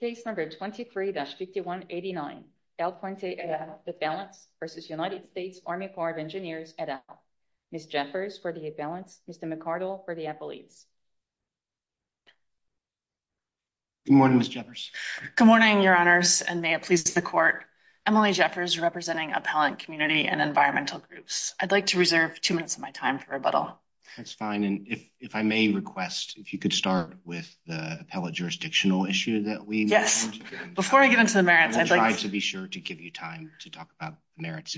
Case number 23-5189, Al Puente et al, the balance versus United States Army Corps of Engineers et al. Ms. Jeffers for the balance, Mr. McCardell for the appellees. Good morning, Ms. Jeffers. Good morning, your honors, and may it please the court. Emily Jeffers representing Appellant Community and Environmental Groups. I'd like to reserve two minutes of my time for rebuttal. That's fine, and if I may request if you could start with the appellate jurisdictional issue that we... Yes, before I get into the merits, I'd like... I will try to be sure to give you time to talk about merits,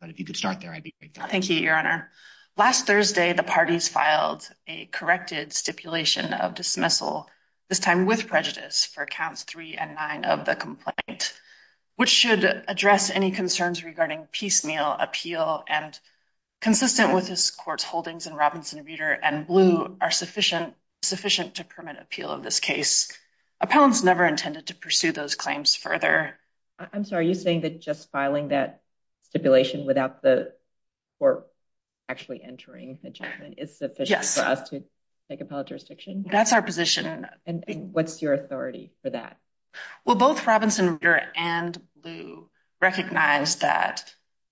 but if you could start there, I'd be grateful. Thank you, your honor. Last Thursday, the parties filed a corrected stipulation of dismissal, this time with prejudice, for counts three and nine of the complaint, which should address any concerns regarding piecemeal appeal and consistent with this court's holdings in Robinson Reeder and Blue are sufficient to permit appeal of this case. Appellants never intended to pursue those claims further. I'm sorry, are you saying that just filing that stipulation without the court actually entering the judgment is sufficient for us to take appellate jurisdiction? That's our position. And what's your authority for that? Well, both Robinson Reeder and Blue recognize that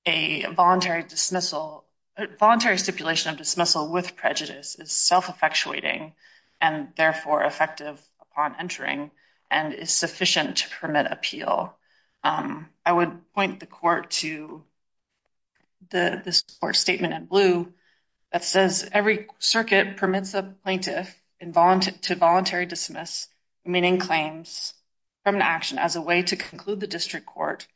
a voluntary dismissal, voluntary stipulation of dismissal with prejudice is self-effectuating and therefore effective upon entering and is sufficient to permit appeal. I would point the court to this court statement in Blue that says, every circuit permits a plaintiff to voluntary dismiss, meaning claims, from an action as a way to conclude the district court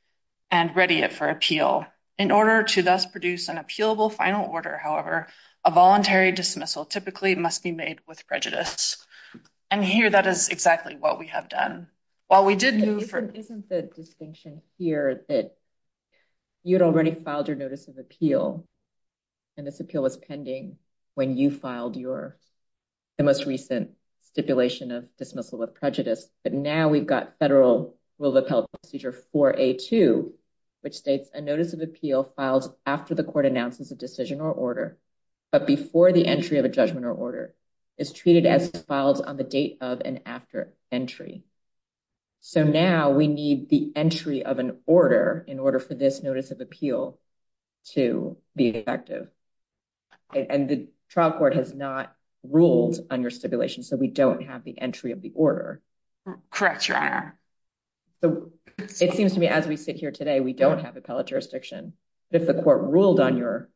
and ready it for appeal. In order to thus produce an appealable final order, however, a voluntary dismissal typically must be made with prejudice. And here, that is exactly what we have done. While we did move from- Isn't the distinction here that you had already filed your notice of appeal and this appeal was pending when you filed your- the most recent stipulation of dismissal of prejudice, but now we've got federal rule of appellate procedure 4A2, which states a notice of appeal filed after the court announces a decision or order, but before the entry of a judgment or order, is treated as filed on the date of and after entry. So now we need the entry of an order in order for this notice of appeal to be effective. And the trial court has not ruled on your stipulation, so we don't have the entry of the order. Correct, Your Honor. So it seems to me as we sit here today, we don't have appellate jurisdiction, but if the court ruled on your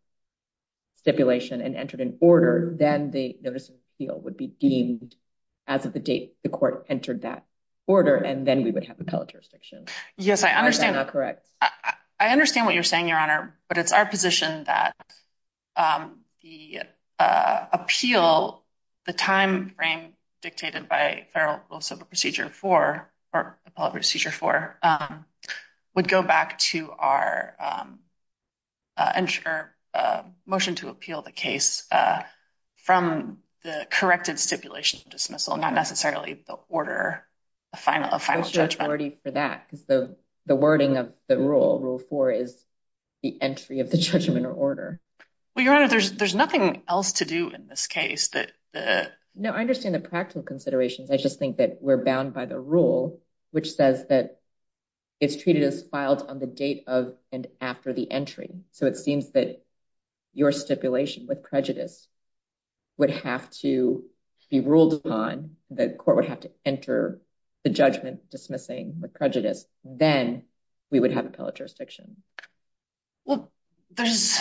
stipulation and entered an order, then the notice of appeal would be deemed as of the date the court entered that order, and then we would have appellate jurisdiction. Yes, I understand- Am I not correct? I understand what you're saying, Your Honor, but it's our position that the appeal, the time frame dictated by federal rule of civil procedure 4, or appellate procedure 4, would go back to our motion to appeal the case from the corrected stipulation of dismissal, not necessarily the order of final judgment. Because the wording of the rule, rule 4, is the entry of the judgment or order. Well, Your Honor, there's nothing else to do in this case. No, I understand the practical considerations. I just think that we're bound by the rule, which says that it's treated as filed on the date of and after the entry. So it seems that your stipulation with prejudice would have to be ruled upon, the court would have to enter the judgment dismissing the prejudice, then we would have appellate jurisdiction. Well, there's,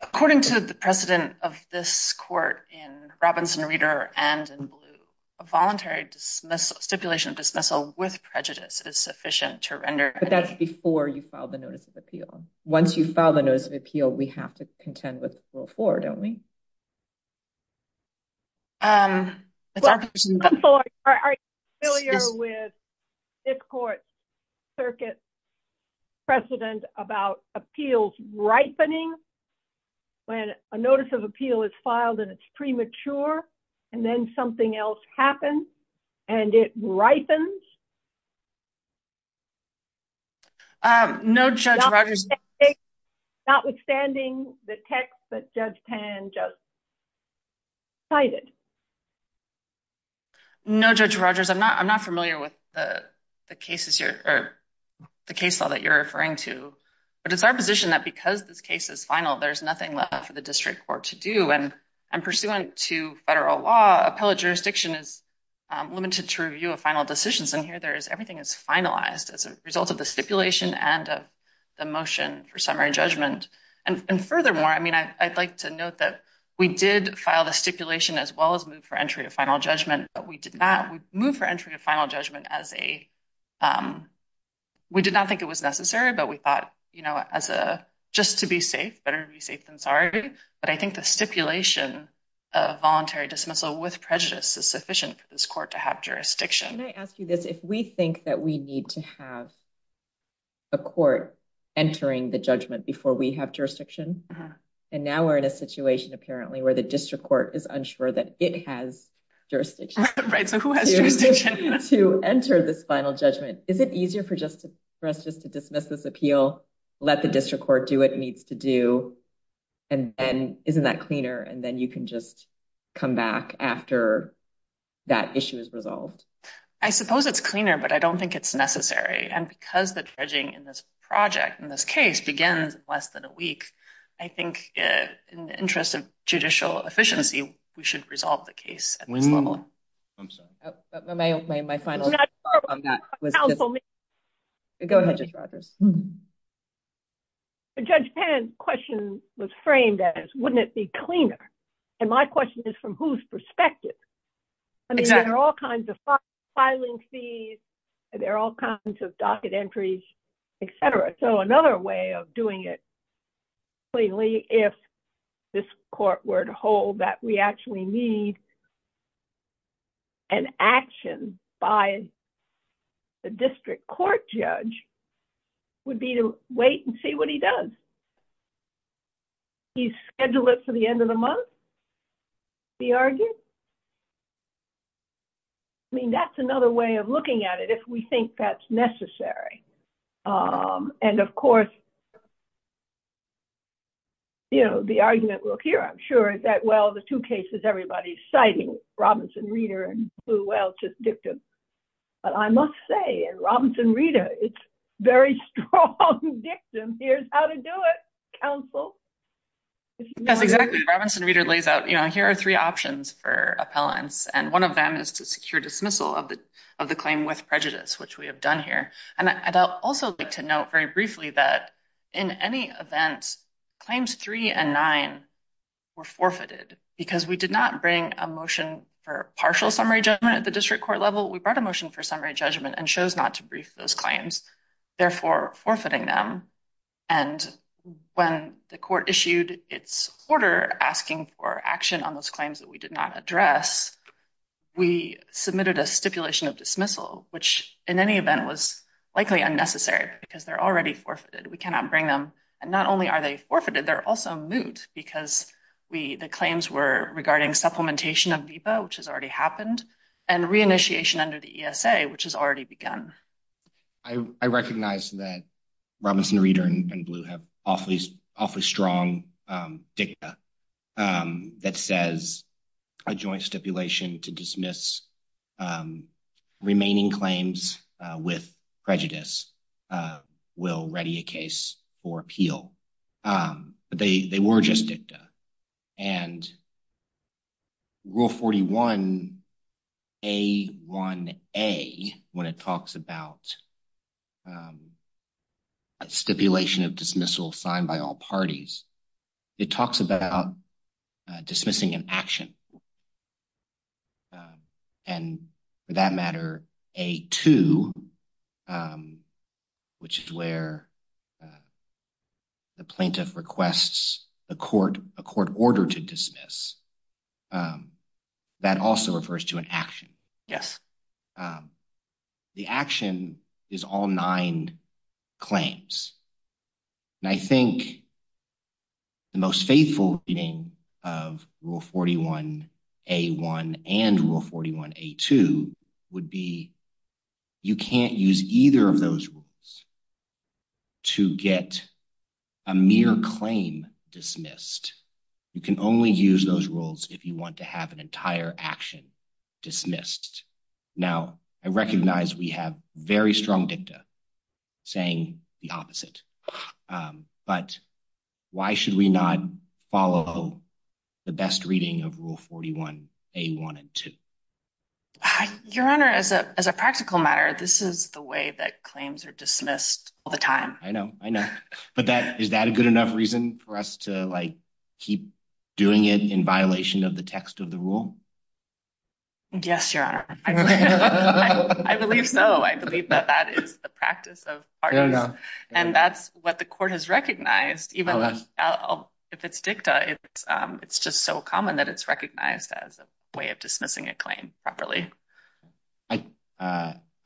according to the precedent of this court in Robinson Reader and in Blue, a voluntary stipulation of dismissal with prejudice is sufficient to render- But that's before you filed the notice of appeal. Once you file the notice of appeal, we have to contend with rule 4, don't we? I'm sorry, are you familiar with this court's circuit precedent about appeals ripening? When a notice of appeal is filed and it's premature, and then something else happens, and it ripens? No, Judge Rogers- Notwithstanding the text that Judge Tan just cited. No, Judge Rogers, I'm not familiar with the case law that you're referring to. But it's our position that because this case is final, there's nothing left for the district court to do. And pursuant to federal law, appellate jurisdiction is limited to review of final decisions. And here, everything is finalized as a result of the stipulation and of the motion for summary judgment. And furthermore, I'd like to note that we did file the stipulation as well as move for entry of final judgment, but we did not move for entry of final judgment as a- We did not think it was necessary, but we thought just to be safe, better to be safe than sorry. But I think the stipulation of voluntary dismissal with prejudice is sufficient for this court to have jurisdiction. Can I ask you this? If we think that we need to have a court entering the judgment before we have jurisdiction, and now we're in a situation apparently where the district court is unsure that it has jurisdiction- Right, so who has jurisdiction? To enter this final judgment, is it easier for us just to dismiss this appeal, let the district court do what it needs to do, and then isn't that cleaner? And then you can just come back after that issue is resolved. I suppose it's cleaner, but I don't think it's necessary. And because the dredging in this project, in this case, begins in less than a week, I think in the interest of judicial efficiency, we should resolve the case at this level. I'm sorry. My final- Go ahead, Judge Rogers. Judge Penn's question was framed as, wouldn't it be cleaner? And my question is, from whose perspective? I mean, there are all kinds of filing fees, there are all kinds of docket entries, et cetera. So another way of doing it cleanly, if this court were to hold that we actually need an action by the district court judge, would be to wait and see what he does. He schedule it for the end of the month, be argued. I mean, that's another way of looking at it, if we think that's necessary. And of course, you know, the argument we'll hear, I'm sure, is that, well, the two cases everybody's citing, Robinson-Reeder and Blue Whale, just dictum. But I must say, in Robinson-Reeder, it's very strong dictum. Here's how to do it, counsel. Yes, exactly, Robinson-Reeder lays out, you know, here are three options for appellants, and one of them is to secure dismissal of the claim with prejudice, which we have done here. And I'd also like to note very briefly that, in any event, claims three and nine were forfeited, because we did not bring a motion for partial summary judgment at the district court level. We brought a motion for summary judgment and chose not to brief those claims, therefore forfeiting them. And when the court issued its order asking for action on those claims that we did not address, we submitted a stipulation of dismissal, which in any event was likely unnecessary, because they're already forfeited. We cannot bring them. And not only are they forfeited, they're also moot, because the claims were regarding supplementation of VBAA, which has already happened, and reinitiation under the ESA, which has already begun. I recognize that Robinson Reeder and Blue have awfully strong dicta that says a joint stipulation to dismiss remaining claims with prejudice will ready a case for appeal. But they were just dicta. And Rule 41A1A, when it talks about stipulation of dismissal signed by all parties, it talks about dismissing an action. And for that matter, A2, which is where the plaintiff requests a court order to dismiss, that also refers to an action. The action is all nine claims. And I think the most faithful reading of Rule 41A1 and Rule 41A2 would be you can't use either of those rules to get a mere claim dismissed. You can only use those rules if you want to have an entire action dismissed. Now, I recognize we have very strong dicta saying the opposite. But why should we not follow the best reading of Rule 41A1 and 2? Your Honor, as a practical matter, this is the way that claims are dismissed all the time. I know, I know. But is that a good enough reason for us to keep doing it in violation of the text of the rule? Yes, Your Honor. I believe so. I believe that that is the practice of parties. And that's what the court has recognized. Even if it's dicta, it's just so common that it's recognized as a way of dismissing a claim properly.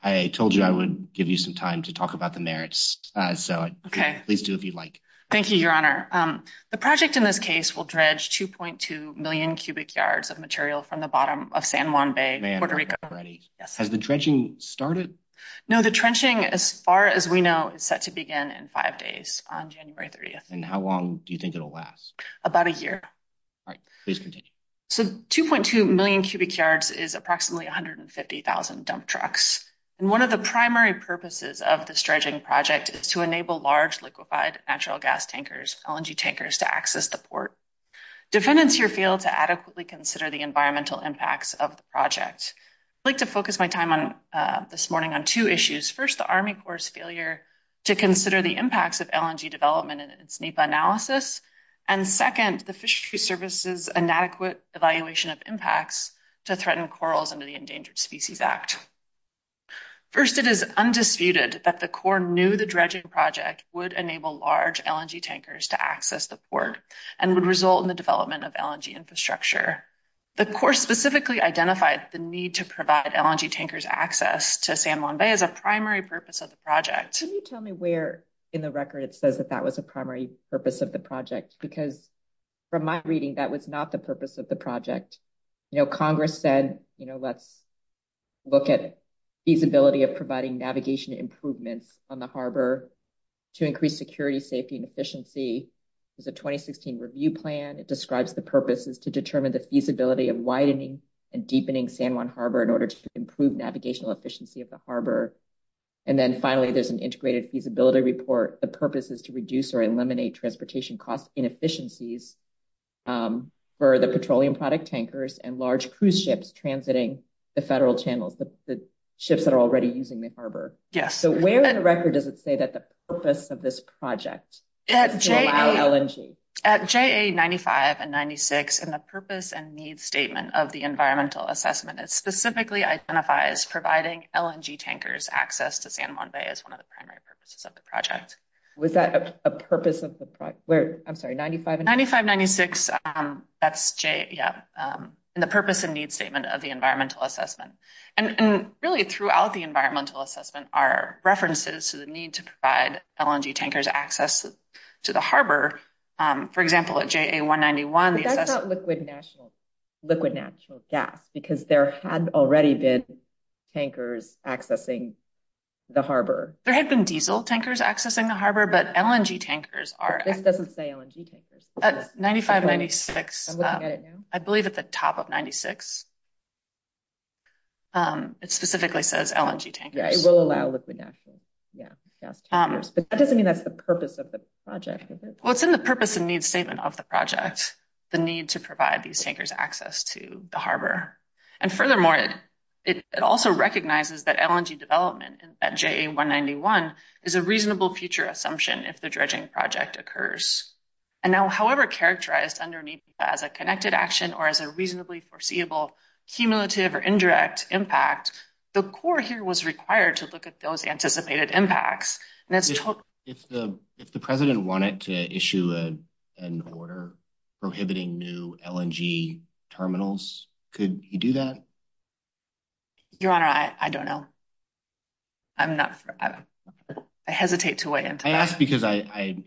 I told you I would give you some time to talk about the merits. So please do if you'd like. Thank you, Your Honor. The project in this case will dredge 2.2 million cubic yards of material from the bottom of San Juan Bay, Puerto Rico. Has the dredging started? No, the dredging as far as we know is set to begin in five days on January 30th. And how long do you think it'll last? About a year. All right, please continue. So 2.2 million cubic yards is approximately 150,000 dump trucks. And one of the primary purposes of this dredging project is to enable large liquefied natural gas tankers, LNG tankers, to access the port. Defendants here fail to adequately consider the environmental impacts of the project. I'd like to focus my time this morning on two issues. First, the Army Corps' failure to consider the impacts of LNG development in its NEPA analysis. And second, the Fisheries Service's inadequate evaluation of impacts to threaten corals under the Endangered Species Act. First, it is undisputed that the Corps knew the dredging project would enable large LNG tankers to access the port and would result in the development of LNG infrastructure. The Corps specifically identified the need to provide LNG tankers access to San Juan Bay as a primary purpose of the project. Can you tell me where in the record it says that that was a primary purpose of the project? Because from my reading, that was not the purpose of the project. You know, Congress said, let's look at feasibility of providing navigation improvements on the harbor to increase security, safety, and efficiency. There's a 2016 review plan. It describes the purposes to determine the feasibility of widening and deepening San Juan Harbor in order to improve navigational efficiency of the harbor. And then finally, there's an integrated feasibility report. The purpose is to reduce or eliminate transportation cost inefficiencies for the petroleum product tankers and large cruise ships transiting the federal channels, the ships that are already using the harbor. Yes. So where in the record does it say that the purpose of this project is to allow LNG? At JA95 and 96, in the purpose and need statement of the environmental assessment, it specifically identifies providing LNG tankers access to San Juan Bay as one of the primary purposes of the project. Was that a purpose of the project? Where, I'm sorry, 95 and 96? 95, 96. That's in the purpose and need statement of the environmental assessment. And really throughout the environmental assessment are references to the need to provide LNG tankers access to the harbor. For example, at JA191... But that's not liquid natural gas because there had already been tankers accessing the harbor. There had been diesel tankers accessing the harbor, but LNG tankers are... This doesn't say LNG tankers. 95, 96. I believe at the top of 96, it specifically says LNG tankers. Yeah, it will allow liquid natural gas tankers. But that doesn't mean that's the purpose of the project. Well, it's in the purpose and need statement of the project, the need to provide these tankers access to the harbor. And furthermore, it also recognizes that LNG development at JA191 is a reasonable future assumption if the dredging project occurs. And now, however, characterized underneath as a connected action or as a reasonably foreseeable cumulative or indirect impact, the Corps here was required to look at those anticipated impacts. If the president wanted to issue an order prohibiting new LNG terminals, could he do that? Your Honor, I don't know. I hesitate to weigh into that. I ask because I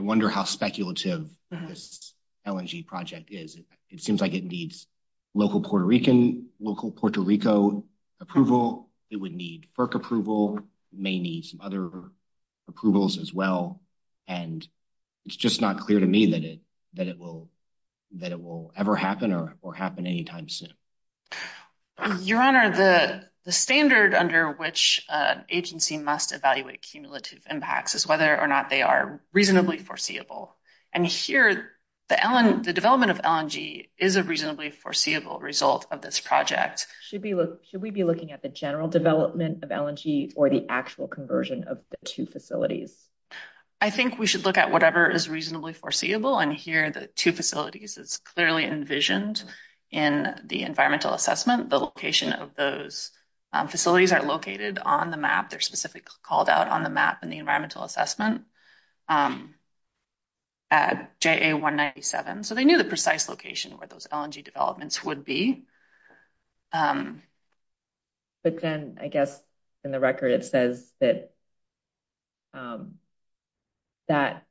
wonder how speculative this LNG project is. It seems like it needs local Puerto Rican, local Puerto Rico approval. It would need FERC approval, may need some other approvals as well. And it's just not clear to me that it will ever happen or happen anytime soon. Your Honor, the standard under which an agency must evaluate cumulative impacts is whether or not they are reasonably foreseeable. And here, the development of LNG is a reasonably foreseeable result of this project. Should we be looking at the general development of LNG or the actual conversion of the two facilities? I think we should look at whatever is reasonably foreseeable. And here, the two facilities is clearly envisioned in the environmental assessment. The location of those facilities are located on the map. They're specifically called out on the map in the environmental assessment at JA 197. So they knew the precise location where those LNG developments would be. But then I guess in the record, it says that that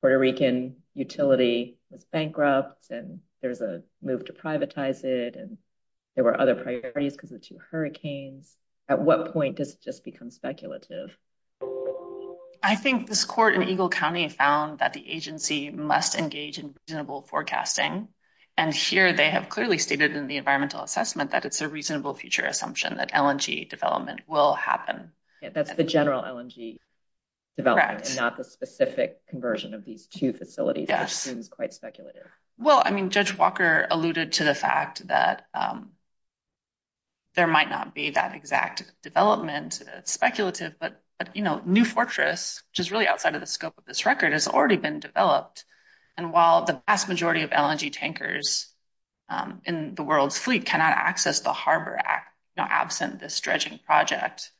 Puerto Rican utility was bankrupt and there's a move to privatize it. And there were other priorities because of the two hurricanes. At what point does it just become speculative? I think this court in Eagle County found that the agency must engage in reasonable forecasting. And here, they have clearly stated in the environmental assessment that it's a reasonable future assumption that LNG development will happen. That's the general LNG development, not the specific conversion of these two facilities. That seems quite speculative. Well, I mean, Judge Walker alluded to the fact that there might not be that exact development. It's speculative. But New Fortress, which is really outside of the scope of this record, has already been developed. And while the vast majority of LNG tankers in the world's fleet cannot access the harbor absent this dredging project,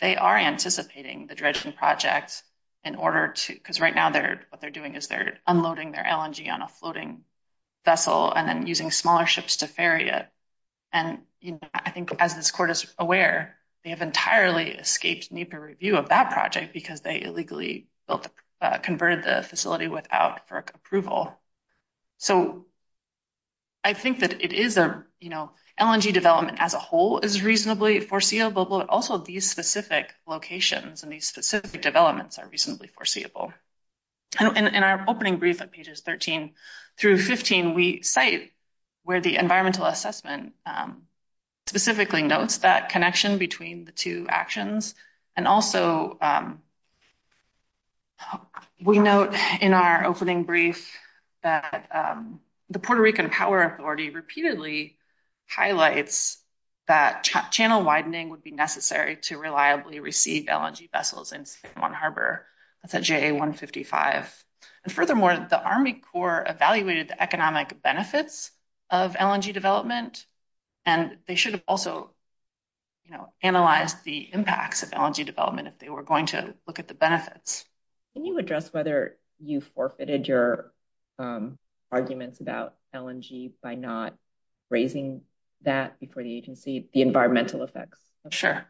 they are anticipating the dredging project in order to... Because right now, what they're doing is they're unloading their LNG on a floating vessel and then using smaller ships to ferry it. And I think as this court is aware, they have entirely escaped NEPA review of that project because they illegally converted the facility without FERC approval. So I think that it is... LNG development as a whole is reasonably foreseeable, but also these specific locations and these specific developments are reasonably foreseeable. In our opening brief at pages 13 through 15, we cite where the environmental assessment specifically notes that connection between the two actions. And also, we note in our opening brief that the Puerto Rican power authority repeatedly highlights that channel widening would be necessary to reliably receive LNG vessels in San Juan Harbor. That's at JA 155. And furthermore, the Army Corps evaluated the economic benefits of LNG development and they should have also, you know, analyzed the impacts of LNG development if they were going to look at the benefits. Can you address whether you forfeited your arguments about LNG by not raising that before the agency, the environmental effects? Sure.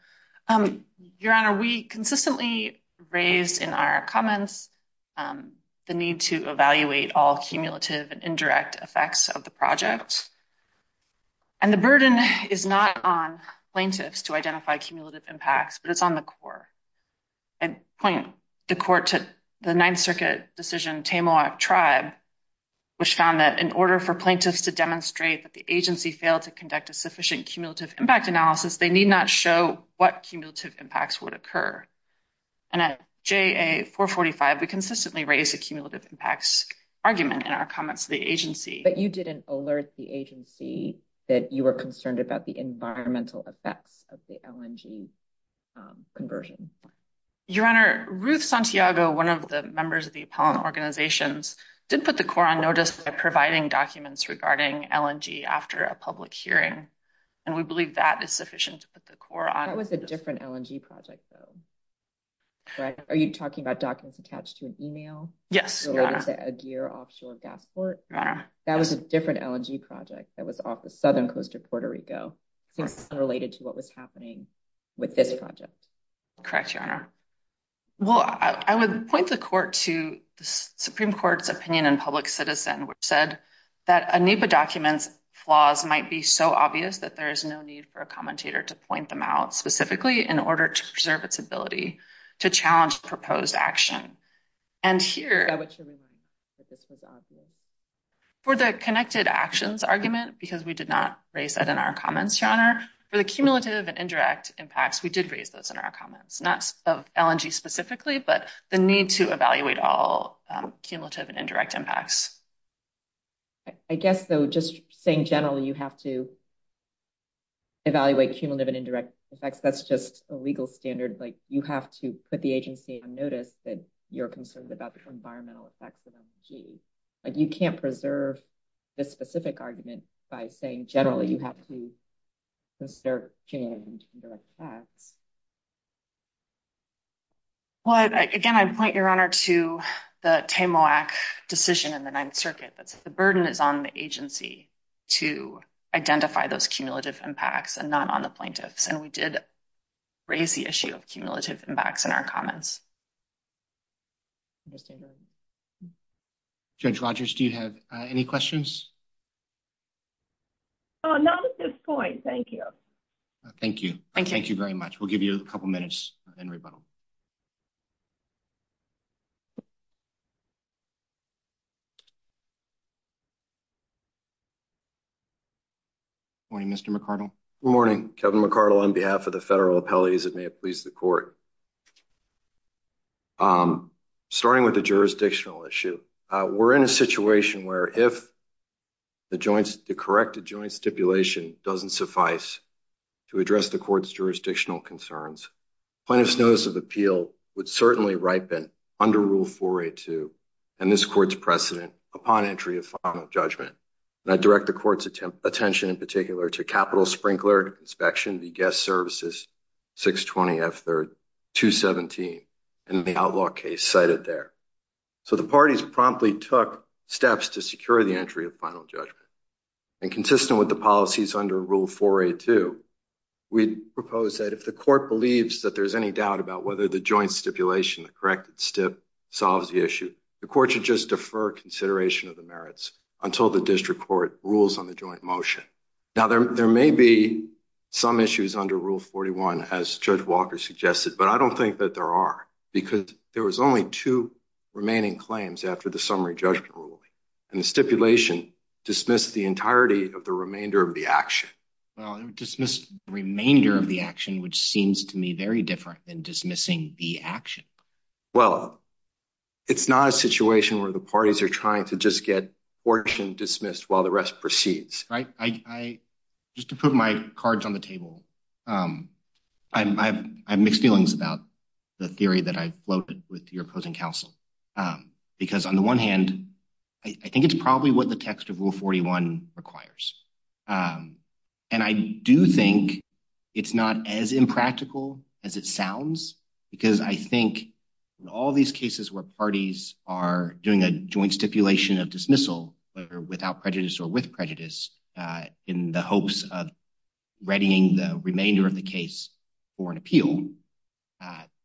Your Honor, we consistently raised in our comments the need to evaluate all cumulative and indirect effects of the project. And the burden is not on plaintiffs to identify cumulative impacts, but it's on the Corps. I'd point the Court to the Ninth Circuit decision, Tamoac Tribe, which found that in order for plaintiffs to demonstrate that the agency failed to conduct a sufficient cumulative impact analysis, they need not show what cumulative impacts would occur. And at JA 445, we consistently raise a cumulative impacts argument in our comments to the agency. But you didn't alert the agency. That you were concerned about the environmental effects of the LNG conversion. Your Honor, Ruth Santiago, one of the members of the appellant organizations, did put the Corps on notice by providing documents regarding LNG after a public hearing. And we believe that is sufficient to put the Corps on notice. That was a different LNG project, though. Are you talking about documents attached to an email? Yes. That was a different LNG project. That was off the southern coast of Puerto Rico. Since it's unrelated to what was happening with this project. Correct, Your Honor. Well, I would point the Court to the Supreme Court's opinion in Public Citizen, which said that a NEPA document's flaws might be so obvious that there is no need for a commentator to point them out specifically in order to preserve its ability to challenge proposed action. And here, for the connected actions because we did not raise that in our comments, Your Honor. For the cumulative and indirect impacts, we did raise those in our comments. Not of LNG specifically, but the need to evaluate all cumulative and indirect impacts. I guess, though, just saying generally, you have to evaluate cumulative and indirect effects. That's just a legal standard. Like, you have to put the agency on notice that you're concerned about the environmental effects of LNG. Like, you can't preserve this specific argument by saying generally, you have to consider cumulative and indirect impacts. Well, again, I'd point, Your Honor, to the TAMOAC decision in the Ninth Circuit. That's the burden is on the agency to identify those cumulative impacts and not on the plaintiffs. And we did raise the issue of cumulative impacts in our comments. Judge Rodgers, do you have any questions? Oh, not at this point. Thank you. Thank you. Thank you very much. We'll give you a couple minutes in rebuttal. Good morning, Mr. McArdle. Good morning. Kevin McArdle on behalf of the federal appellate as it may have pleased the court. Starting with the jurisdictional issue, we're in a situation where if the joint, the corrected joint stipulation doesn't suffice to address the court's jurisdictional concerns, plaintiff's notice of appeal would certainly ripen under Rule 482 and this court's precedent upon entry of final judgment. And I direct the court's attention in particular to capital sprinkler inspection, the guest services, 620 F 3rd 217 and the outlaw case cited there. So the parties promptly took steps to secure the entry of final judgment and consistent with the policies under Rule 482, we propose that if the court believes that there's any doubt about whether the joint stipulation, the corrected stip solves the issue, the court should just defer consideration of the merits until the district court rules on the joint motion. Now, there may be some issues under Rule 41 as Judge Walker suggested, but I don't think that there are because there was only two remaining claims after the summary judgment ruling and the stipulation dismissed the entirety of the remainder of the action. Well, it would dismiss remainder of the action, which seems to me very different than dismissing the action. Well, it's not a situation where the parties are trying to just get portion dismissed while the rest proceeds, right? I just to put my cards on the table. I have mixed feelings about the theory that I floated with your opposing counsel, because on the one hand, I think it's probably what the text of Rule 41 requires. And I do think it's not as impractical as it sounds, because I think in all these cases where parties are doing a joint stipulation of dismissal without prejudice or with prejudice in the hopes of readying the remainder of the case for an appeal,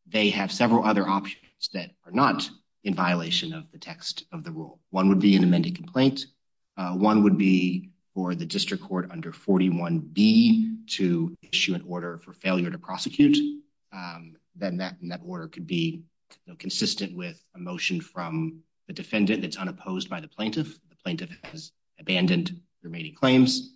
they have several other options that are not in violation of the text of the rule. One would be an amended complaint. One would be for the district court under 41B to issue an order for failure to prosecute. Then that order could be consistent with a motion from the defendant that's unopposed by the plaintiff. The plaintiff has abandoned the remaining claims.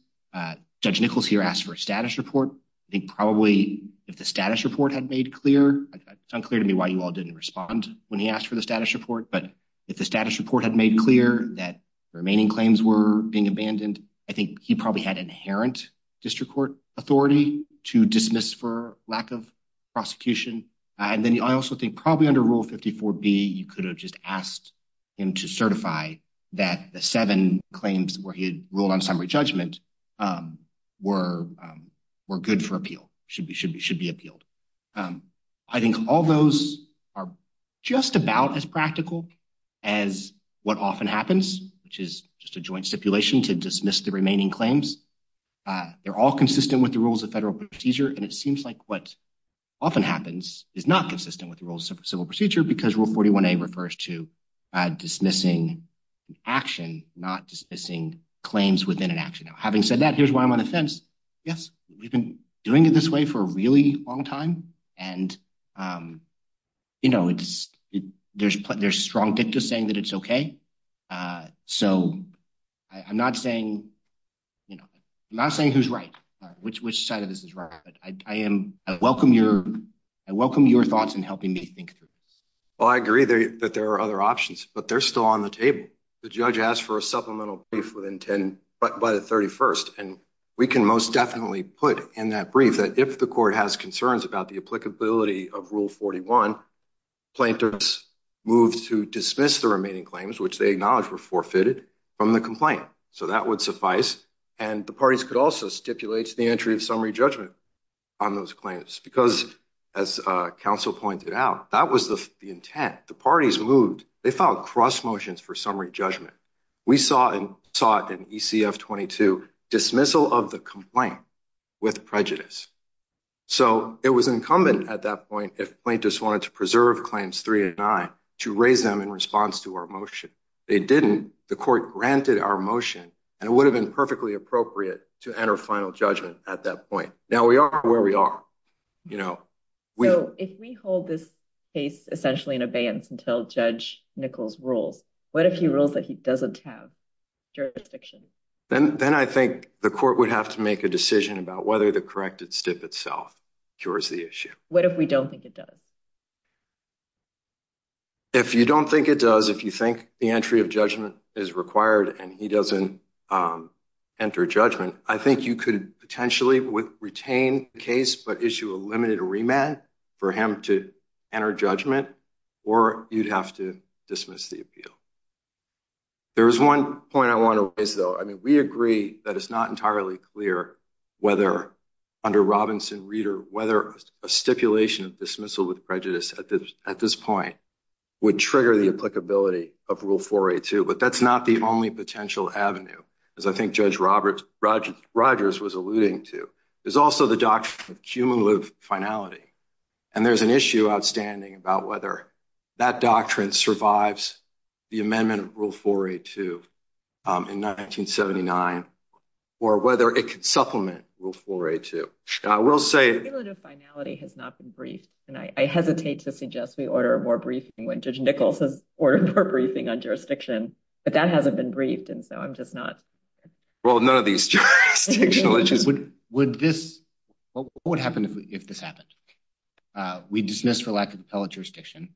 Judge Nichols here asked for a status report. I think probably if the status report had made clear, it's unclear to me why you all didn't respond when he asked for the status report, but if the status report had made clear that the remaining claims were being abandoned, I think he probably had inherent district court authority to dismiss for lack of prosecution. And then I also think probably under Rule 54B, you could have just asked him to certify that the seven claims where he had ruled on summary judgment were good for appeal, should be appealed. I think all those are just about as practical as what often happens, which is just a joint stipulation to dismiss the remaining claims. They're all consistent with the rules of federal procedure, and it seems like what often happens is not consistent with the rules of civil procedure because Rule 41A refers to dismissing action, not dismissing claims within an action. Having said that, here's why I'm on the fence. Yes, we've been doing it this way for a really long time, and there's strong dicta saying that it's okay. So I'm not saying who's right, which side of this is right, but I welcome your thoughts in helping me think through this. Well, I agree that there are other options, but they're still on the table. The judge asked for a supplemental brief by the 31st, and we can most definitely put in that brief that if the court has concerns about the applicability of Rule 41, plaintiffs move to dismiss the remaining claims, which they acknowledge were forfeited from the complaint. So that would suffice, and the parties could also stipulate the entry of summary judgment on those claims because, as counsel pointed out, that was the intent. The parties moved. They filed cross motions for summary judgment. We saw it in ECF 22, dismissal of the complaint with prejudice. So it was incumbent at that point if plaintiffs wanted to preserve Claims 389 to raise them in response to our motion. They didn't. The court granted our motion, and it would have been perfectly appropriate to enter final judgment at that point. Now we are where we are. So if we hold this case essentially in abeyance until Judge Nichols rules, what if he rules that he doesn't have jurisdiction? Then I think the court would have to make a decision about whether the corrected stip itself cures the issue. What if we don't think it does? If you don't think it does, if you think the entry of judgment is required and he doesn't enter judgment, I think you could potentially retain the case but issue a limited remand for him to enter judgment, or you'd have to dismiss the appeal. There is one point I want to raise, though. I mean, we agree that it's not entirely clear whether under Robinson Reader, whether a stipulation of dismissal with prejudice at this point would trigger the applicability of Rule 482, but that's not the only potential avenue, as I think Judge Rogers was alluding to. There's also the doctrine of cumulative finality, and there's an issue outstanding about whether that doctrine survives the amendment of Rule 482 in 1979 or whether it could supplement Rule 482, and I will say... The cumulative finality has not been briefed, and I hesitate to suggest we order more briefing when Judge Nichols has ordered more briefing on jurisdiction, but that hasn't been briefed, and so I'm just not... Well, none of these jurisdictional issues... What would happen if this happened? We dismiss for lack of appellate jurisdiction,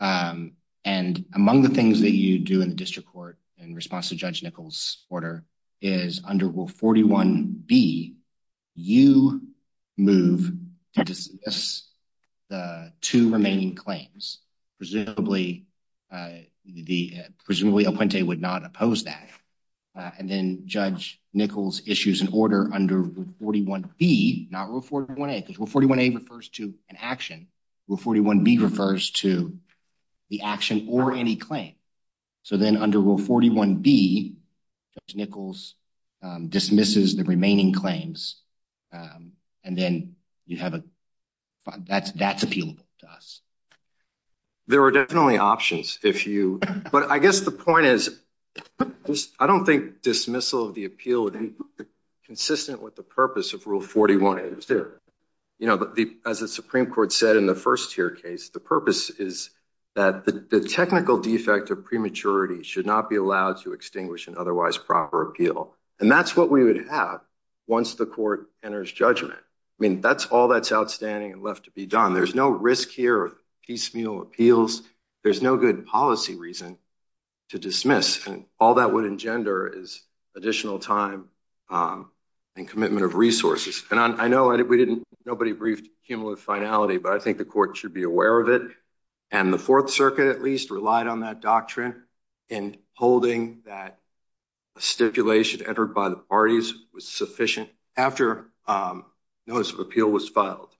and among the things that you do in the district court in response to Judge Nichols' order is under Rule 41B, you move to dismiss the two remaining claims. Presumably, El Puente would not oppose that, and then Judge Nichols issues an order under Rule 41B, not Rule 41A, because Rule 41A refers to an action. Rule 41B refers to the action or any claim, so then under Rule 41B, Judge Nichols dismisses the remaining claims, and then you have a... That's appealable to us. There are definitely options if you... But I guess the point is, I don't think dismissal of the appeal would be consistent with the purpose of Rule 41A. You know, as the Supreme Court said in the first tier case, the purpose is that the technical defect of prematurity should not be allowed to extinguish an otherwise proper appeal, and that's what we would have once the court enters judgment. I mean, that's all that's outstanding and left to be done. There's no risk here of piecemeal appeals. There's no good policy reason to dismiss, and all that would engender is additional time and commitment of resources. And I know we didn't... Nobody briefed cumulative finality, but I think the court should be aware of it. And the Fourth Circuit, at least, relied on that doctrine in holding that a stipulation entered by the parties was sufficient after notice of appeal was filed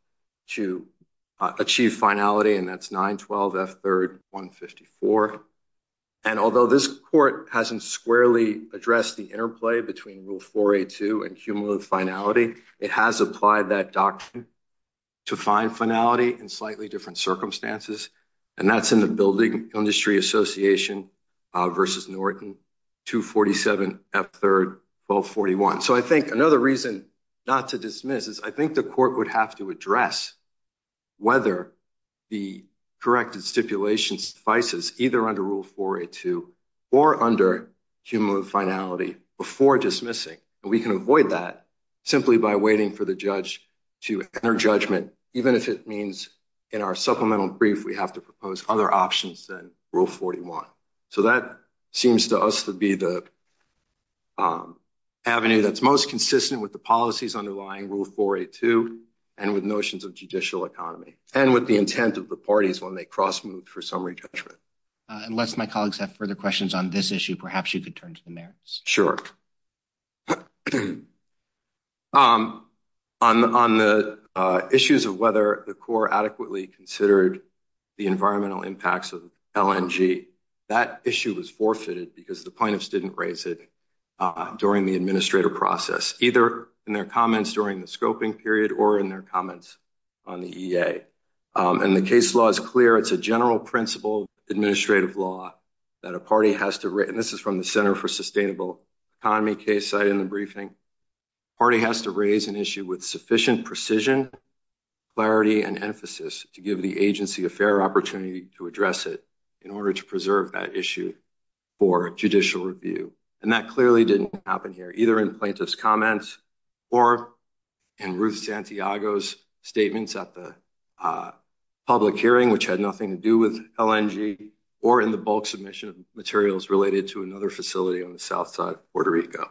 to achieve finality, and that's 912 F. 3rd 154. And although this court hasn't squarely addressed the interplay between Rule 482 and cumulative finality, it has applied that doctrine to find finality in slightly different circumstances, and that's in the Building Industry Association versus Norton 247 F. 3rd 1241. So I think another reason not to dismiss is I think the court would have to address whether the corrected stipulation suffices either under Rule 482 or under cumulative finality before dismissing, and we can avoid that simply by waiting for the judge to enter judgment, even if it means in our supplemental brief we have to propose other options than Rule 41. So that seems to us to be the avenue that's most consistent with the policies underlying Rule 482 and with notions of judicial economy and with the intent of the parties when they cross moved for summary judgment. Unless my colleagues have further questions on this issue, perhaps you could turn to the mayors. Sure. I'm on the issues of whether the core adequately considered the environmental impacts of LNG. That issue was forfeited because the plaintiffs didn't raise it during the administrative process, either in their comments during the scoping period or in their comments on the EA. And the case law is clear. It's a general principle administrative law that a party has to written. This is from the Center for Sustainable Economy case site in the briefing. Party has to raise an issue with sufficient precision, clarity and emphasis to give the agency a fair opportunity to address it in order to preserve that issue for judicial review. And that clearly didn't happen here, either in plaintiff's comments or in Ruth Santiago's statements at the public hearing, which had nothing to do with LNG or in the bulk submission of materials related to another facility on the south side of Puerto Rico.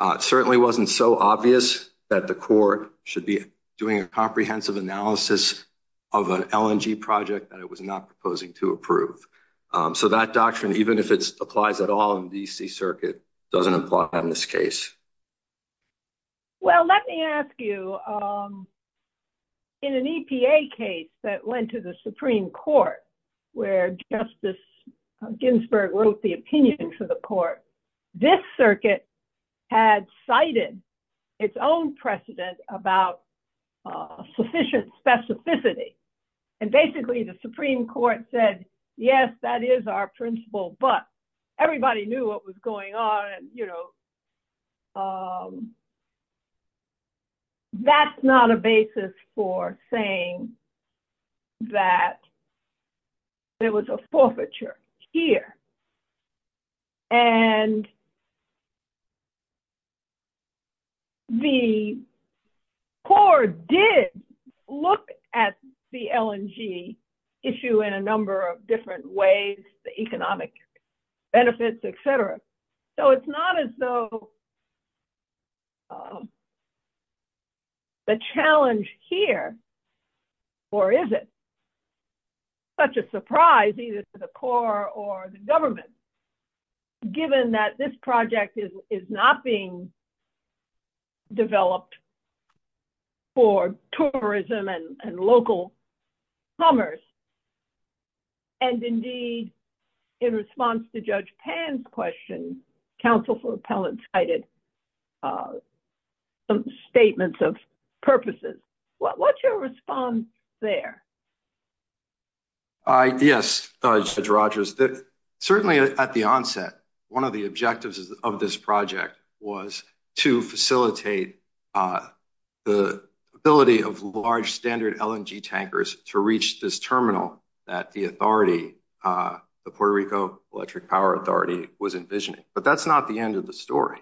It certainly wasn't so obvious that the court should be doing a comprehensive analysis of an LNG project that it was not proposing to approve. So that doctrine, even if it applies at all in DC Circuit, doesn't apply in this case. Well, let me ask you. In an EPA case that went to the Supreme Court, where Justice Ginsburg wrote the opinion to the court, this circuit had cited its own precedent about sufficient specificity. And basically the Supreme Court said, yes, that is our principle, but everybody knew what was going on. That's not a basis for saying that there was a forfeiture here. And the court did look at the LNG issue in a number of different ways, the economic benefits, et cetera. So it's not as though the challenge here, or is it such a surprise, either to the court or the government, given that this project is not being developed for tourism and local summers. And indeed, in response to Judge Pan's question, counsel for appellate cited some statements of purposes. What's your response there? Yes, Judge Rogers. That certainly at the onset, one of the objectives of this project was to facilitate the ability of large standard LNG tankers to reach this terminal that the authority, the Puerto Rico Electric Power Authority was envisioning. But that's not the end of the story.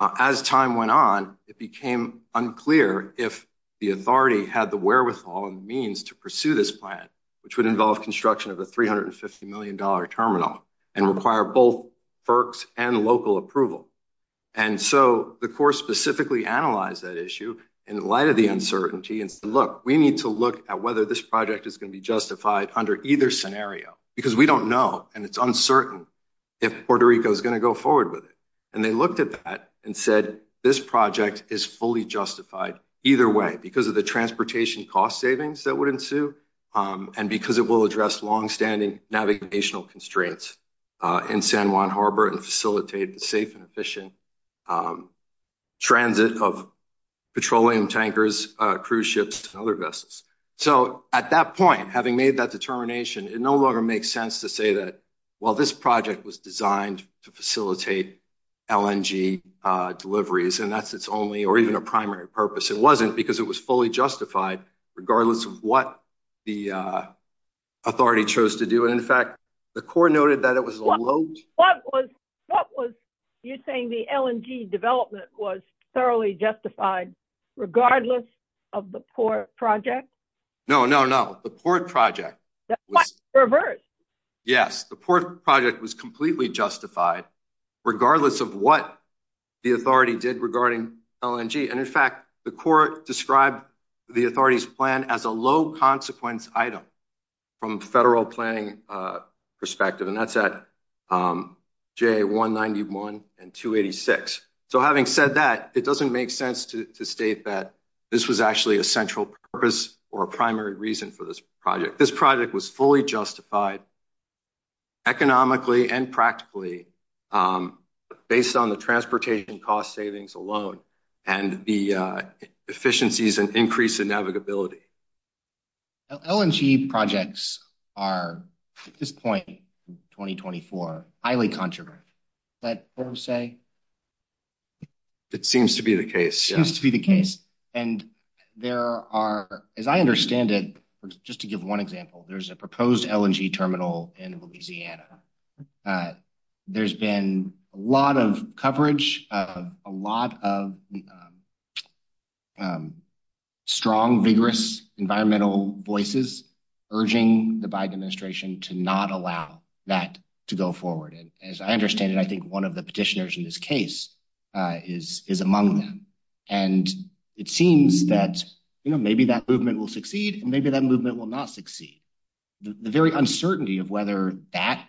As time went on, it became unclear if the authority had the wherewithal and means to pursue this plan, which would involve construction of a $350 million terminal and require both FERCs and local approval. And so the court specifically analyzed that issue in light of the uncertainty and said, look, we need to look at whether this project is going to be justified under either scenario, because we don't know, and it's uncertain if Puerto Rico is going to go forward with it. And they looked at that and said, this project is fully justified either way because of the transportation cost savings that would ensue and because it will address longstanding navigational constraints in San Juan Harbor and facilitate the safe and efficient transit of petroleum tankers, cruise ships and other vessels. So at that point, having made that determination, it no longer makes sense to say that, well, this project was designed to facilitate LNG deliveries, and that's its only or even a primary purpose. It wasn't because it was fully justified regardless of what the authority chose to do. And in fact, the court noted that it was a load. What was you saying the LNG development was thoroughly justified regardless of the port project? No, no, no. The port project. That's quite the reverse. Yes. The port project was completely justified regardless of what the authority did regarding LNG. And in fact, the court described the authority's plan as a low consequence item from federal planning perspective, and that's at J191 and 286. So having said that, it doesn't make sense to state that this was actually a central purpose or a primary reason for this project. This project was fully justified economically and practically based on the transportation cost savings alone. And the efficiencies and increase in navigability. LNG projects are at this point in 2024, highly controversial. Is that fair to say? It seems to be the case. It seems to be the case. And there are, as I understand it, just to give one example, There's been a lot of coverage, a lot of strong, vigorous environmental voices urging the Biden administration to not allow that to go forward. And as I understand it, I think one of the petitioners in this case is among them. And it seems that, you know, maybe that movement will succeed and maybe that movement will not succeed. The very uncertainty of whether that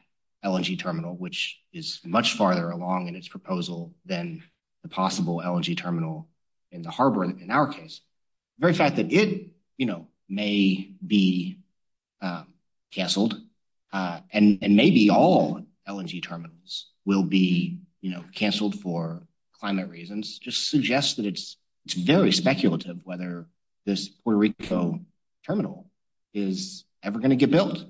LNG terminal, which is much farther along in its proposal than the possible LNG terminal in the harbor in our case, the very fact that it, you know, may be canceled, and maybe all LNG terminals will be, you know, canceled for climate reasons, just suggests that it's very speculative whether this Puerto Rico terminal is ever going to get built.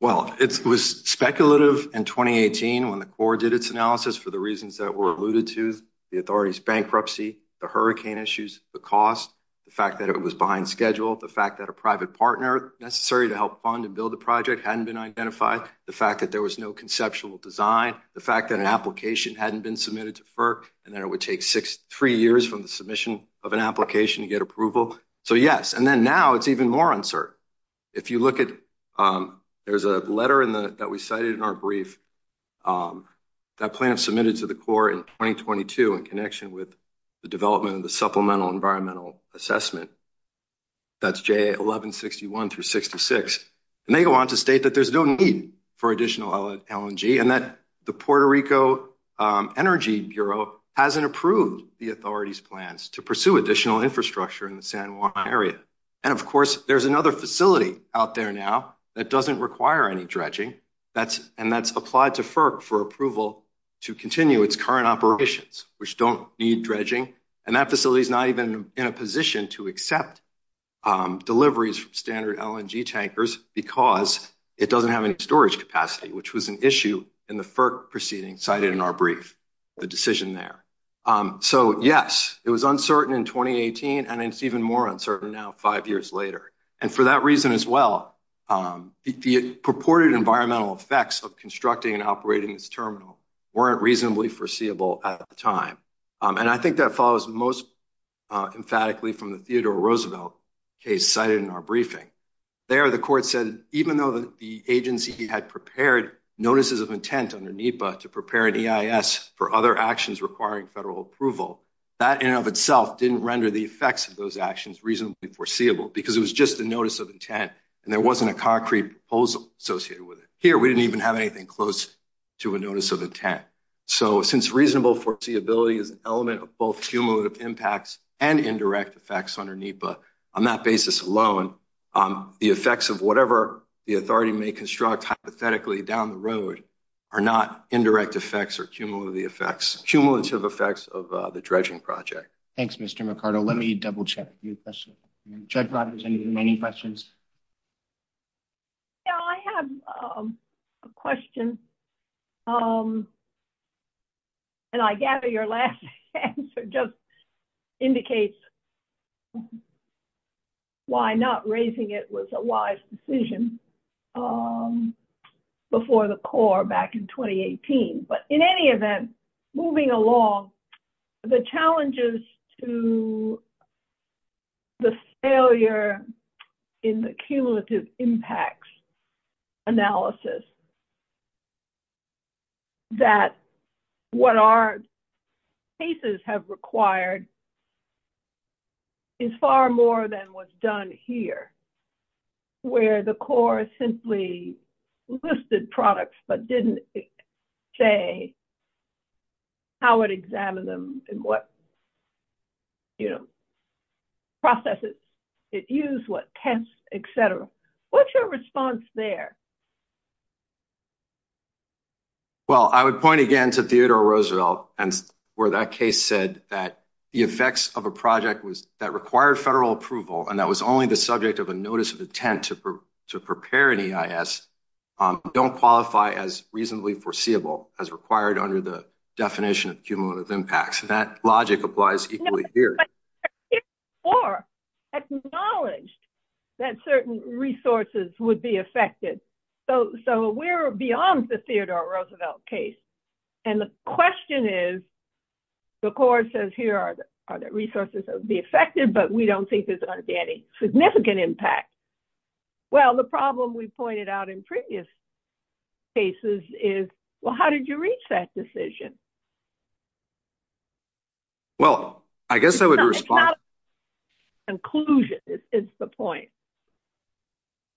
Well, it was speculative in 2018 when the Corps did its analysis for the reasons that were alluded to, the authorities bankruptcy, the hurricane issues, the cost, the fact that it was behind schedule, the fact that a private partner necessary to help fund and build the project hadn't been identified, the fact that there was no conceptual design, the fact that an application hadn't been submitted to FERC, and then it would take three years from the submission of an application to get approval. So yes, and then now it's even more uncertain. If you look at, there's a letter that we cited in our brief that plaintiffs submitted to the Corps in 2022 in connection with the development of the Supplemental Environmental Assessment, that's J1161 through 66, and they go on to state that there's no need for additional LNG, and that the Puerto Rico Energy Bureau hasn't approved the authorities plans to pursue additional infrastructure in the San Juan area. And of course, there's another facility out there now that doesn't require any dredging, that's, and that's applied to FERC for approval to continue its current operations, which don't need dredging. And that facility is not even in a position to accept deliveries from standard LNG tankers because it doesn't have any storage capacity, which was an issue in the FERC proceeding cited in our brief, the decision there. So yes, it was uncertain in 2018, and it's even more uncertain now five years later. And for that reason as well, the purported environmental effects of constructing and operating this terminal weren't reasonably foreseeable at the time. And I think that follows most emphatically from the Theodore Roosevelt case cited in our briefing. There, the court said, even though the agency had prepared notices of intent under NEPA to prepare an EIS for other actions requiring federal approval, that in and of itself didn't render the effects of those actions reasonably foreseeable because it was just a notice of intent and there wasn't a concrete proposal associated with it. Here, we didn't even have anything close to a notice of intent. So since reasonable foreseeability is an element of both cumulative impacts and indirect effects under NEPA, on that basis alone, the effects of whatever the authority may construct hypothetically down the road are not indirect effects or cumulative effects of the dredging project. Thanks, Mr. Mercado. Let me double check. Judge Rogers, any questions? Yeah, I have a question. And I gather your last answer just indicates why not raising it was a wise decision before the Corps back in 2018. But in any event, moving along, the challenges to the failure in the cumulative impacts analysis that what our cases have required is far more than what's done here where the Corps simply listed products but didn't say how it examined them and what processes it used, what tests, et cetera. What's your response there? Well, I would point again to Theodore Roosevelt and where that case said that the effects of a project was that required federal approval and that was only the subject of a notice of intent to prepare an EIS don't qualify as reasonably foreseeable as required under the definition of cumulative impacts. That logic applies equally here. But the Corps acknowledged that certain resources would be affected. So we're beyond the Theodore Roosevelt case. And the question is, the Corps says here are the resources that would be affected, but we don't think there's going to be any significant impact. Well, the problem we pointed out in previous cases is, well, how did you reach that decision? Well, I guess I would respond... It's not a conclusion, it's the point.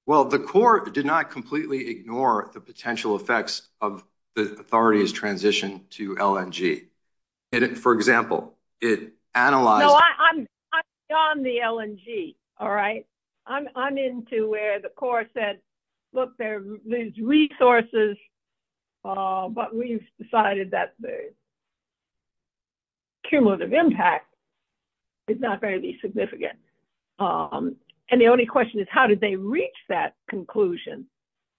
Well, the Corps did not completely ignore the potential effects of the authorities transition to LNG. For example, it analyzed... No, I'm beyond the LNG, all right? I'm into where the Corps said, look, there's resources, but we've decided that... Cumulative impact is not very significant. And the only question is, how did they reach that conclusion?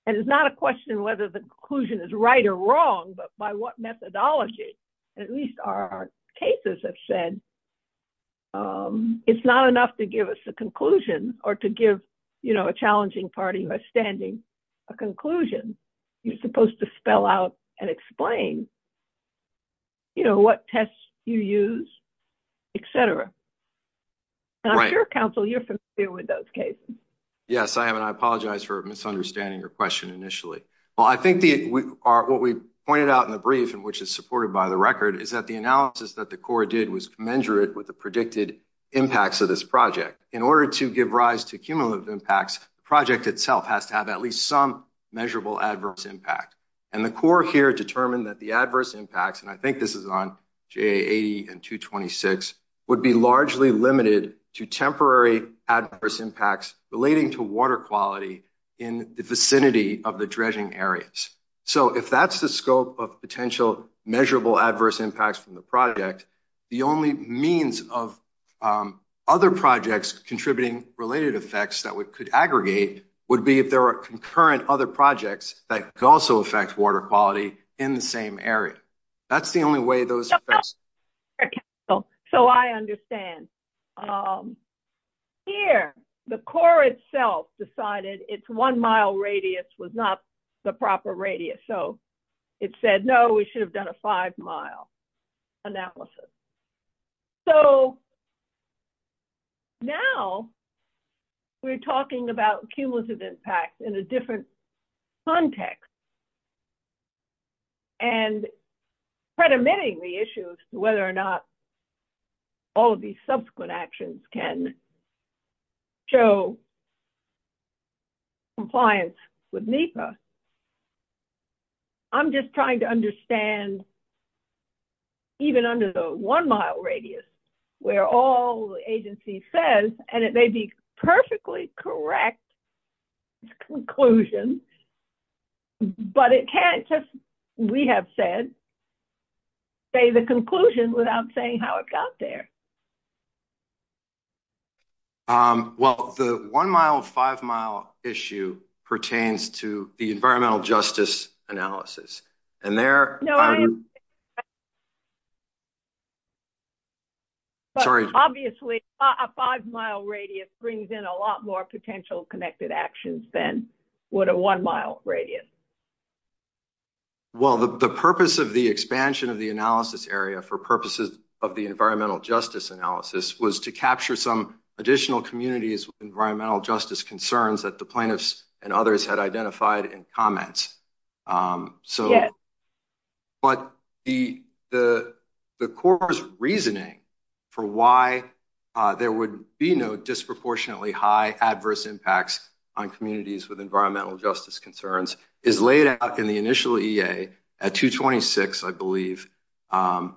And it's not a question whether the conclusion is right or wrong, but by what methodology? At least our cases have said, it's not enough to give us a conclusion or to give a challenging party who are standing a conclusion. You're supposed to spell out and explain what tests you use, et cetera. Dr. Council, you're familiar with those cases. Yes, I am. And I apologize for misunderstanding your question initially. Well, I think what we pointed out in the brief and which is supported by the record is that the analysis that the Corps did was commensurate with the predicted impacts of this project. In order to give rise to cumulative impacts, the project itself has to have at least some measurable adverse impact. And the Corps here determined that the adverse impacts, and I think this is on GA80 and 226, would be largely limited to temporary adverse impacts relating to water quality in the vicinity of the dredging areas. So if that's the scope of potential measurable adverse impacts from the project, the only means of other projects contributing related effects that we could aggregate would be if there are concurrent other projects that could also affect water quality in the same area. That's the only way those... So I understand. Here, the Corps itself decided its one-mile radius was not the proper radius. So it said, no, we should have done a five-mile analysis. So now we're talking about cumulative impact in a different context. And predominating the issue as to whether or not all of these subsequent actions can show compliance with NEPA, I'm just trying to understand even under the one-mile radius where all the agency says, and it may be perfectly correct conclusion, but it can't just, we have said, say the conclusion without saying how it got there. Well, the one-mile, five-mile issue pertains to the environmental justice analysis. And there... No, I understand. Sorry. Obviously, a five-mile radius brings in a lot more potential connected actions than what a one-mile radius brings in. Well, the purpose of the expansion of the analysis area for purposes of the environmental justice analysis was to capture some additional communities with environmental justice concerns that the plaintiffs and others had identified in comments. So, but the Corps' reasoning for why there would be no disproportionately high adverse impacts on communities with environmental justice concerns is laid out in the initial EA at 226, I believe. And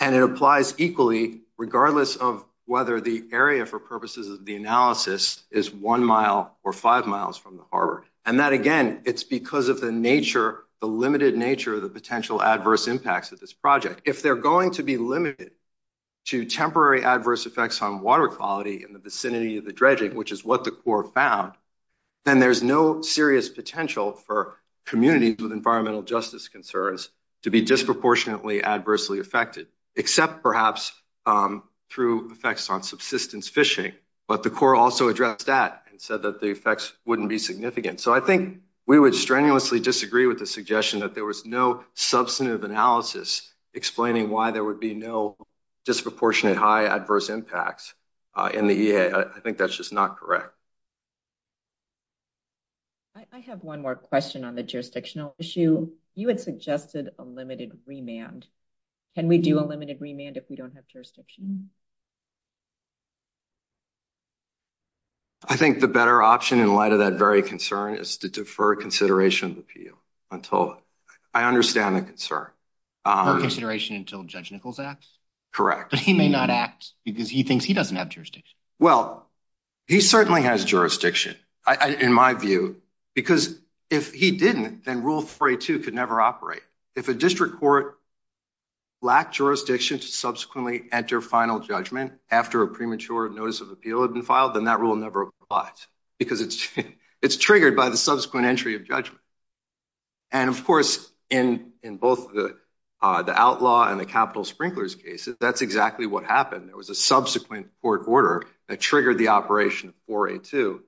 it applies equally, regardless of whether the area for purposes of the analysis is one mile or five miles from the harbor. And that, again, it's because of the nature, the limited nature of the potential adverse impacts of this project. If they're going to be limited to temporary adverse effects on water quality in the vicinity of the dredging, which is what the Corps found, then there's no serious potential for communities with environmental justice concerns to be disproportionately adversely affected, except perhaps through effects on subsistence fishing. But the Corps also addressed that and said that the effects wouldn't be significant. So I think we would strenuously disagree with the suggestion that there was no substantive analysis explaining why there would be no disproportionate high adverse impacts in the EA. I think that's just not correct. I have one more question on the jurisdictional issue. You had suggested a limited remand. Can we do a limited remand if we don't have jurisdiction? I think the better option in light of that very concern is to defer consideration of the appeal until I understand the concern. For consideration until Judge Nichols acts? Correct. But he may not act because he thinks he doesn't have jurisdiction. Well, he certainly has jurisdiction, in my view, because if he didn't, then Rule 32 could never operate. If a district court lacked jurisdiction to subsequently enter final judgment after a premature notice of appeal had been filed, then that rule never applies because it's triggered by the subsequent entry of judgment. And of course, in both the outlaw and the capital sprinklers cases, that's exactly what happened. There was a subsequent court order that triggered the operation of 4A2,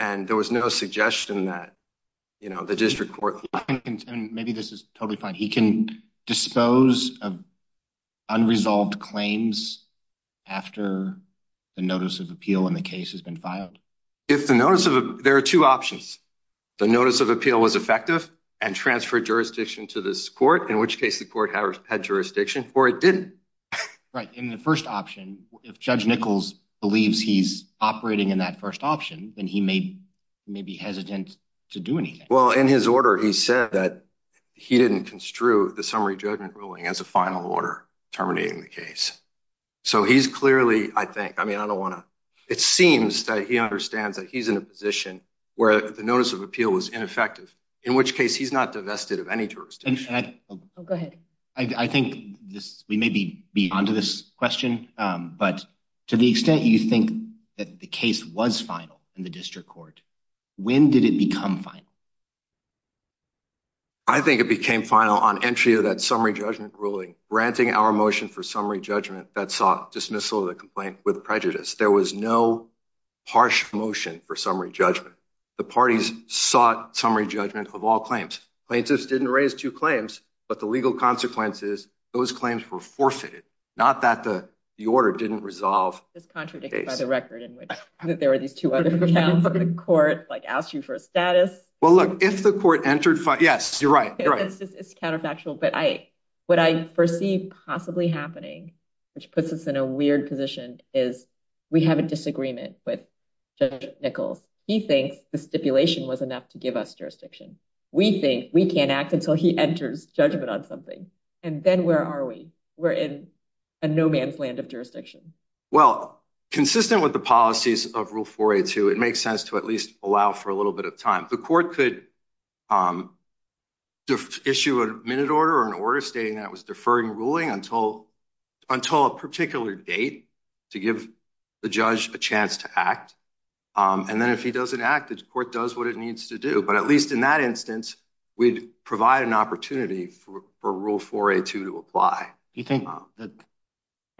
and there was no suggestion that the district court... Maybe this is totally fine. He can dispose of unresolved claims after the notice of appeal in the case has been filed? There are two options. The notice of appeal was effective and transferred jurisdiction to this court, in which case the court had jurisdiction, or it didn't. Right. In the first option, if Judge Nichols believes he's operating in that first option, then he may be hesitant to do anything. Well, in his order, he said that he didn't construe the summary judgment ruling as a final order terminating the case. So he's clearly, I think... I mean, I don't want to... It seems that he understands that he's in a position where the notice of appeal was ineffective, in which case he's not divested of any jurisdiction. Oh, go ahead. I think this... Beyond this question, but to the extent you think that the case was final in the district court, when did it become final? I think it became final on entry of that summary judgment ruling, granting our motion for summary judgment that sought dismissal of the complaint with prejudice. There was no harsh motion for summary judgment. The parties sought summary judgment of all claims. Plaintiffs didn't raise two claims, but the legal consequences, those claims were forfeited. Not that the order didn't resolve... It's contradicted by the record in which there were these two other accounts of the court, like asked you for a status. Well, look, if the court entered... Yes, you're right. It's counterfactual, but what I perceive possibly happening, which puts us in a weird position, is we have a disagreement with Judge Nichols. He thinks the stipulation was enough to give us jurisdiction. We think we can't act until he enters judgment on something. And then where are we? We're in a no man's land of jurisdiction. Well, consistent with the policies of Rule 4A2, it makes sense to at least allow for a little bit of time. The court could issue a minute order or an order stating that it was deferring ruling until a particular date to give the judge a chance to act. And then if he doesn't act, the court does what it needs to do. But at least in that instance, we'd provide an opportunity for Rule 4A2 to apply.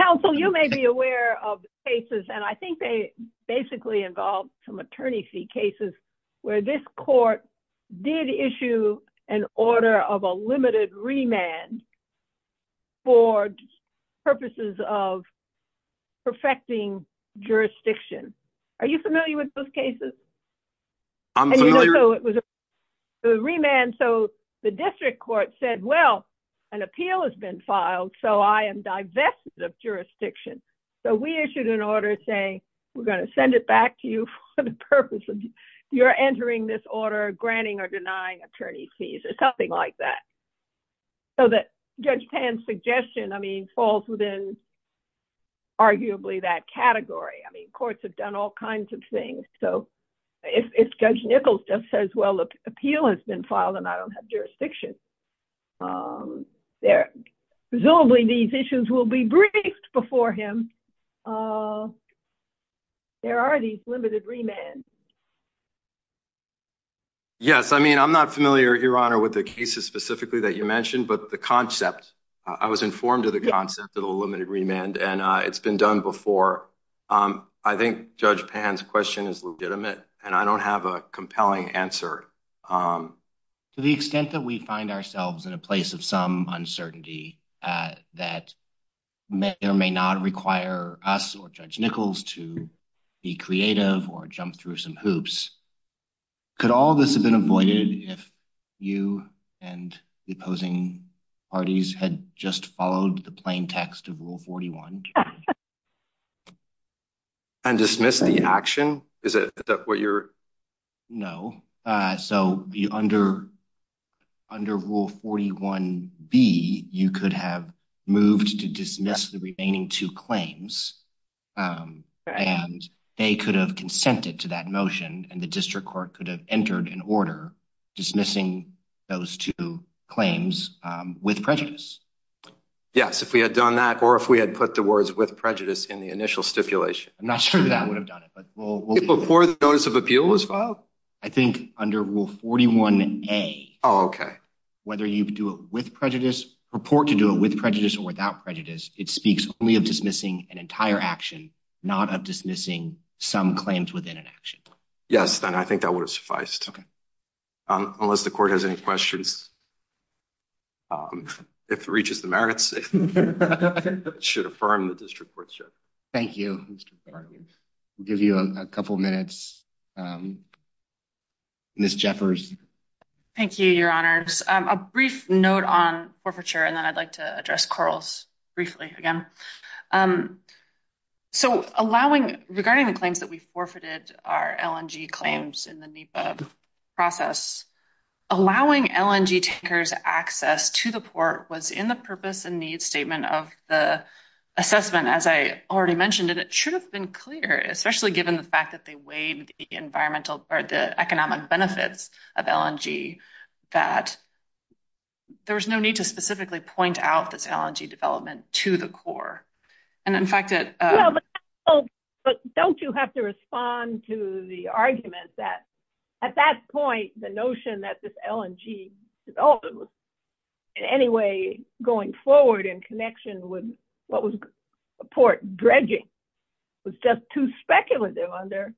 Counsel, you may be aware of cases, and I think they basically involve some attorney fee cases where this court did issue an order of a limited remand for purposes of perfecting jurisdiction. Are you familiar with those cases? I'm familiar. It was a remand. So the district court said, well, an appeal has been filed, so I am divested of jurisdiction. So we issued an order saying, we're going to send it back to you for the purpose of you're entering this order, granting or denying attorney fees or something like that. So that Judge Pan's suggestion, I mean, falls within arguably that category. I mean, courts have done all kinds of things. So if Judge Nichols just says, well, the appeal has been filed, and I don't have jurisdiction, presumably these issues will be briefed before him. There are these limited remands. Yes, I mean, I'm not familiar, Your Honor, with the cases specifically that you mentioned, but the concept, I was informed of the concept of a limited remand, and it's been done before. I think Judge Pan's question is legitimate, and I don't have a compelling answer. To the extent that we find ourselves in a place of some uncertainty that may or may not require us or Judge Nichols to be creative or jump through some hoops, could all this have been avoided if you and the opposing parties had just followed the plain text of Rule 41? And dismissed the action? Is that what you're... No. So under Rule 41B, you could have moved to dismiss the remaining two claims, and they could have consented to that motion, and the district court could have entered an order dismissing those two claims with prejudice. Yes, if we had done that or if we had put the words with prejudice in the initial stipulation. I'm not sure that would have done it, but we'll... Before the notice of appeal was filed? I think under Rule 41A... Oh, okay. Whether you do it with prejudice, purport to do it with prejudice or without prejudice, it speaks only of dismissing an entire action, not of dismissing some claims within an action. Yes, and I think that would have sufficed. Okay. Unless the court has any questions. If it reaches the merits, it should affirm the district courtship. Thank you, Mr. Clark. We'll give you a couple minutes Ms. Jeffers. Thank you, Your Honors. A brief note on forfeiture, and then I'd like to address corals briefly again. So allowing... Regarding the claims that we forfeited our LNG claims in the NEPA process, allowing LNG takers access to the port was in the purpose and need statement of the assessment, as I already mentioned, and it should have been clear, especially given the fact that they weighed the environmental... The economic benefits of LNG, that there was no need to specifically point out this LNG development to the core. And in fact, it... But don't you have to respond to the argument that at that point, the notion that this LNG development was in any way going forward in connection with what was a port dredging was just too speculative under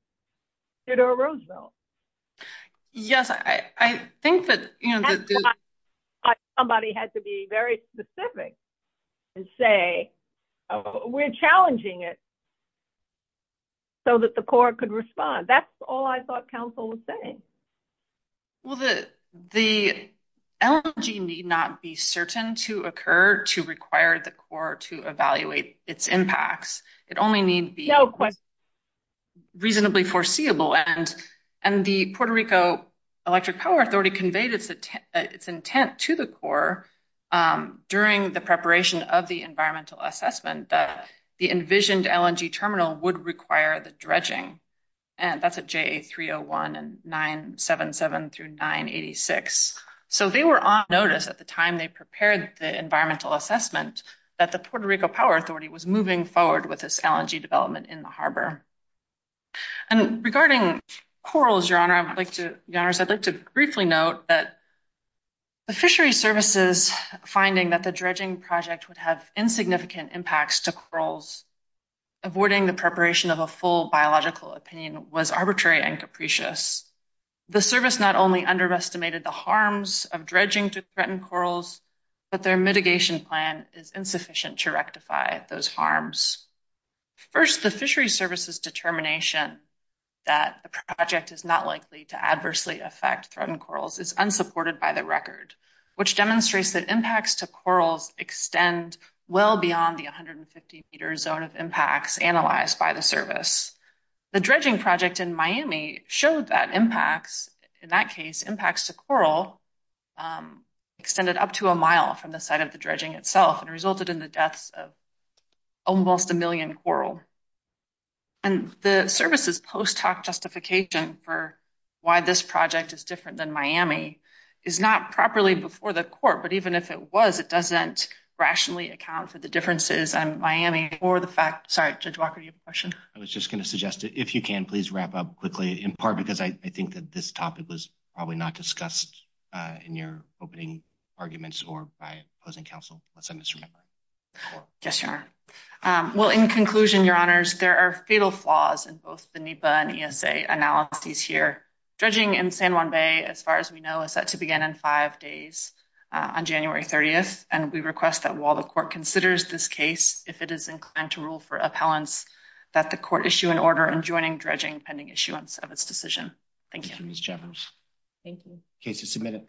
Theodore Roosevelt. Yes, I think that... Somebody had to be very specific and say, we're challenging it so that the core could respond. That's all I thought counsel was saying. Well, the LNG need not be certain to occur to require the core to evaluate its impacts. It only need be... No question. ...reasonably foreseeable, and the Puerto Rico Electric Power Authority conveyed its intent to the core during the preparation of the environmental assessment that the envisioned LNG terminal would require the dredging. And that's at JA301 and 977 through 986. So they were on notice at the time they prepared the environmental assessment that the Puerto Rico Power Authority was moving forward with this LNG development in the harbor. And regarding corals, Your Honor, I'd like to briefly note that the fishery services finding that the dredging project would have insignificant impacts to corals, avoiding the preparation of a full biological opinion was arbitrary and capricious. The service not only underestimated the harms of dredging to threaten corals, but their mitigation plan is insufficient to rectify those harms. First, the fishery services determination that the project is not likely to adversely affect threatened corals is unsupported by the record, which demonstrates that impacts to corals extend well beyond the 150 meter zone of impacts analyzed by the service. The dredging project in Miami showed that impacts, in that case, impacts to coral extended up to a mile from the site of the dredging itself and resulted in the deaths of almost a million coral. And the service's post hoc justification for why this project is different than Miami is not properly before the court, but even if it was, it doesn't rationally account for the differences in Miami or the fact... Sorry, Judge Walker, do you have a question? I was just going to suggest if you can please wrap up quickly, in part because I think that this topic was probably not discussed in your opening arguments or by opposing counsel. Let's end this room. Yes, Your Honor. Well, in conclusion, Your Honors, there are fatal flaws in both the NEPA and ESA analyses here. Dredging in San Juan Bay, as far as we know, is set to begin in five days on January 30th, and we request that while the court considers this case, if it is inclined to rule for appellants, that the court issue an order in joining dredging pending issuance of its decision. Thank you. Thank you, Ms. Jeffers. Thank you. Case is submitted.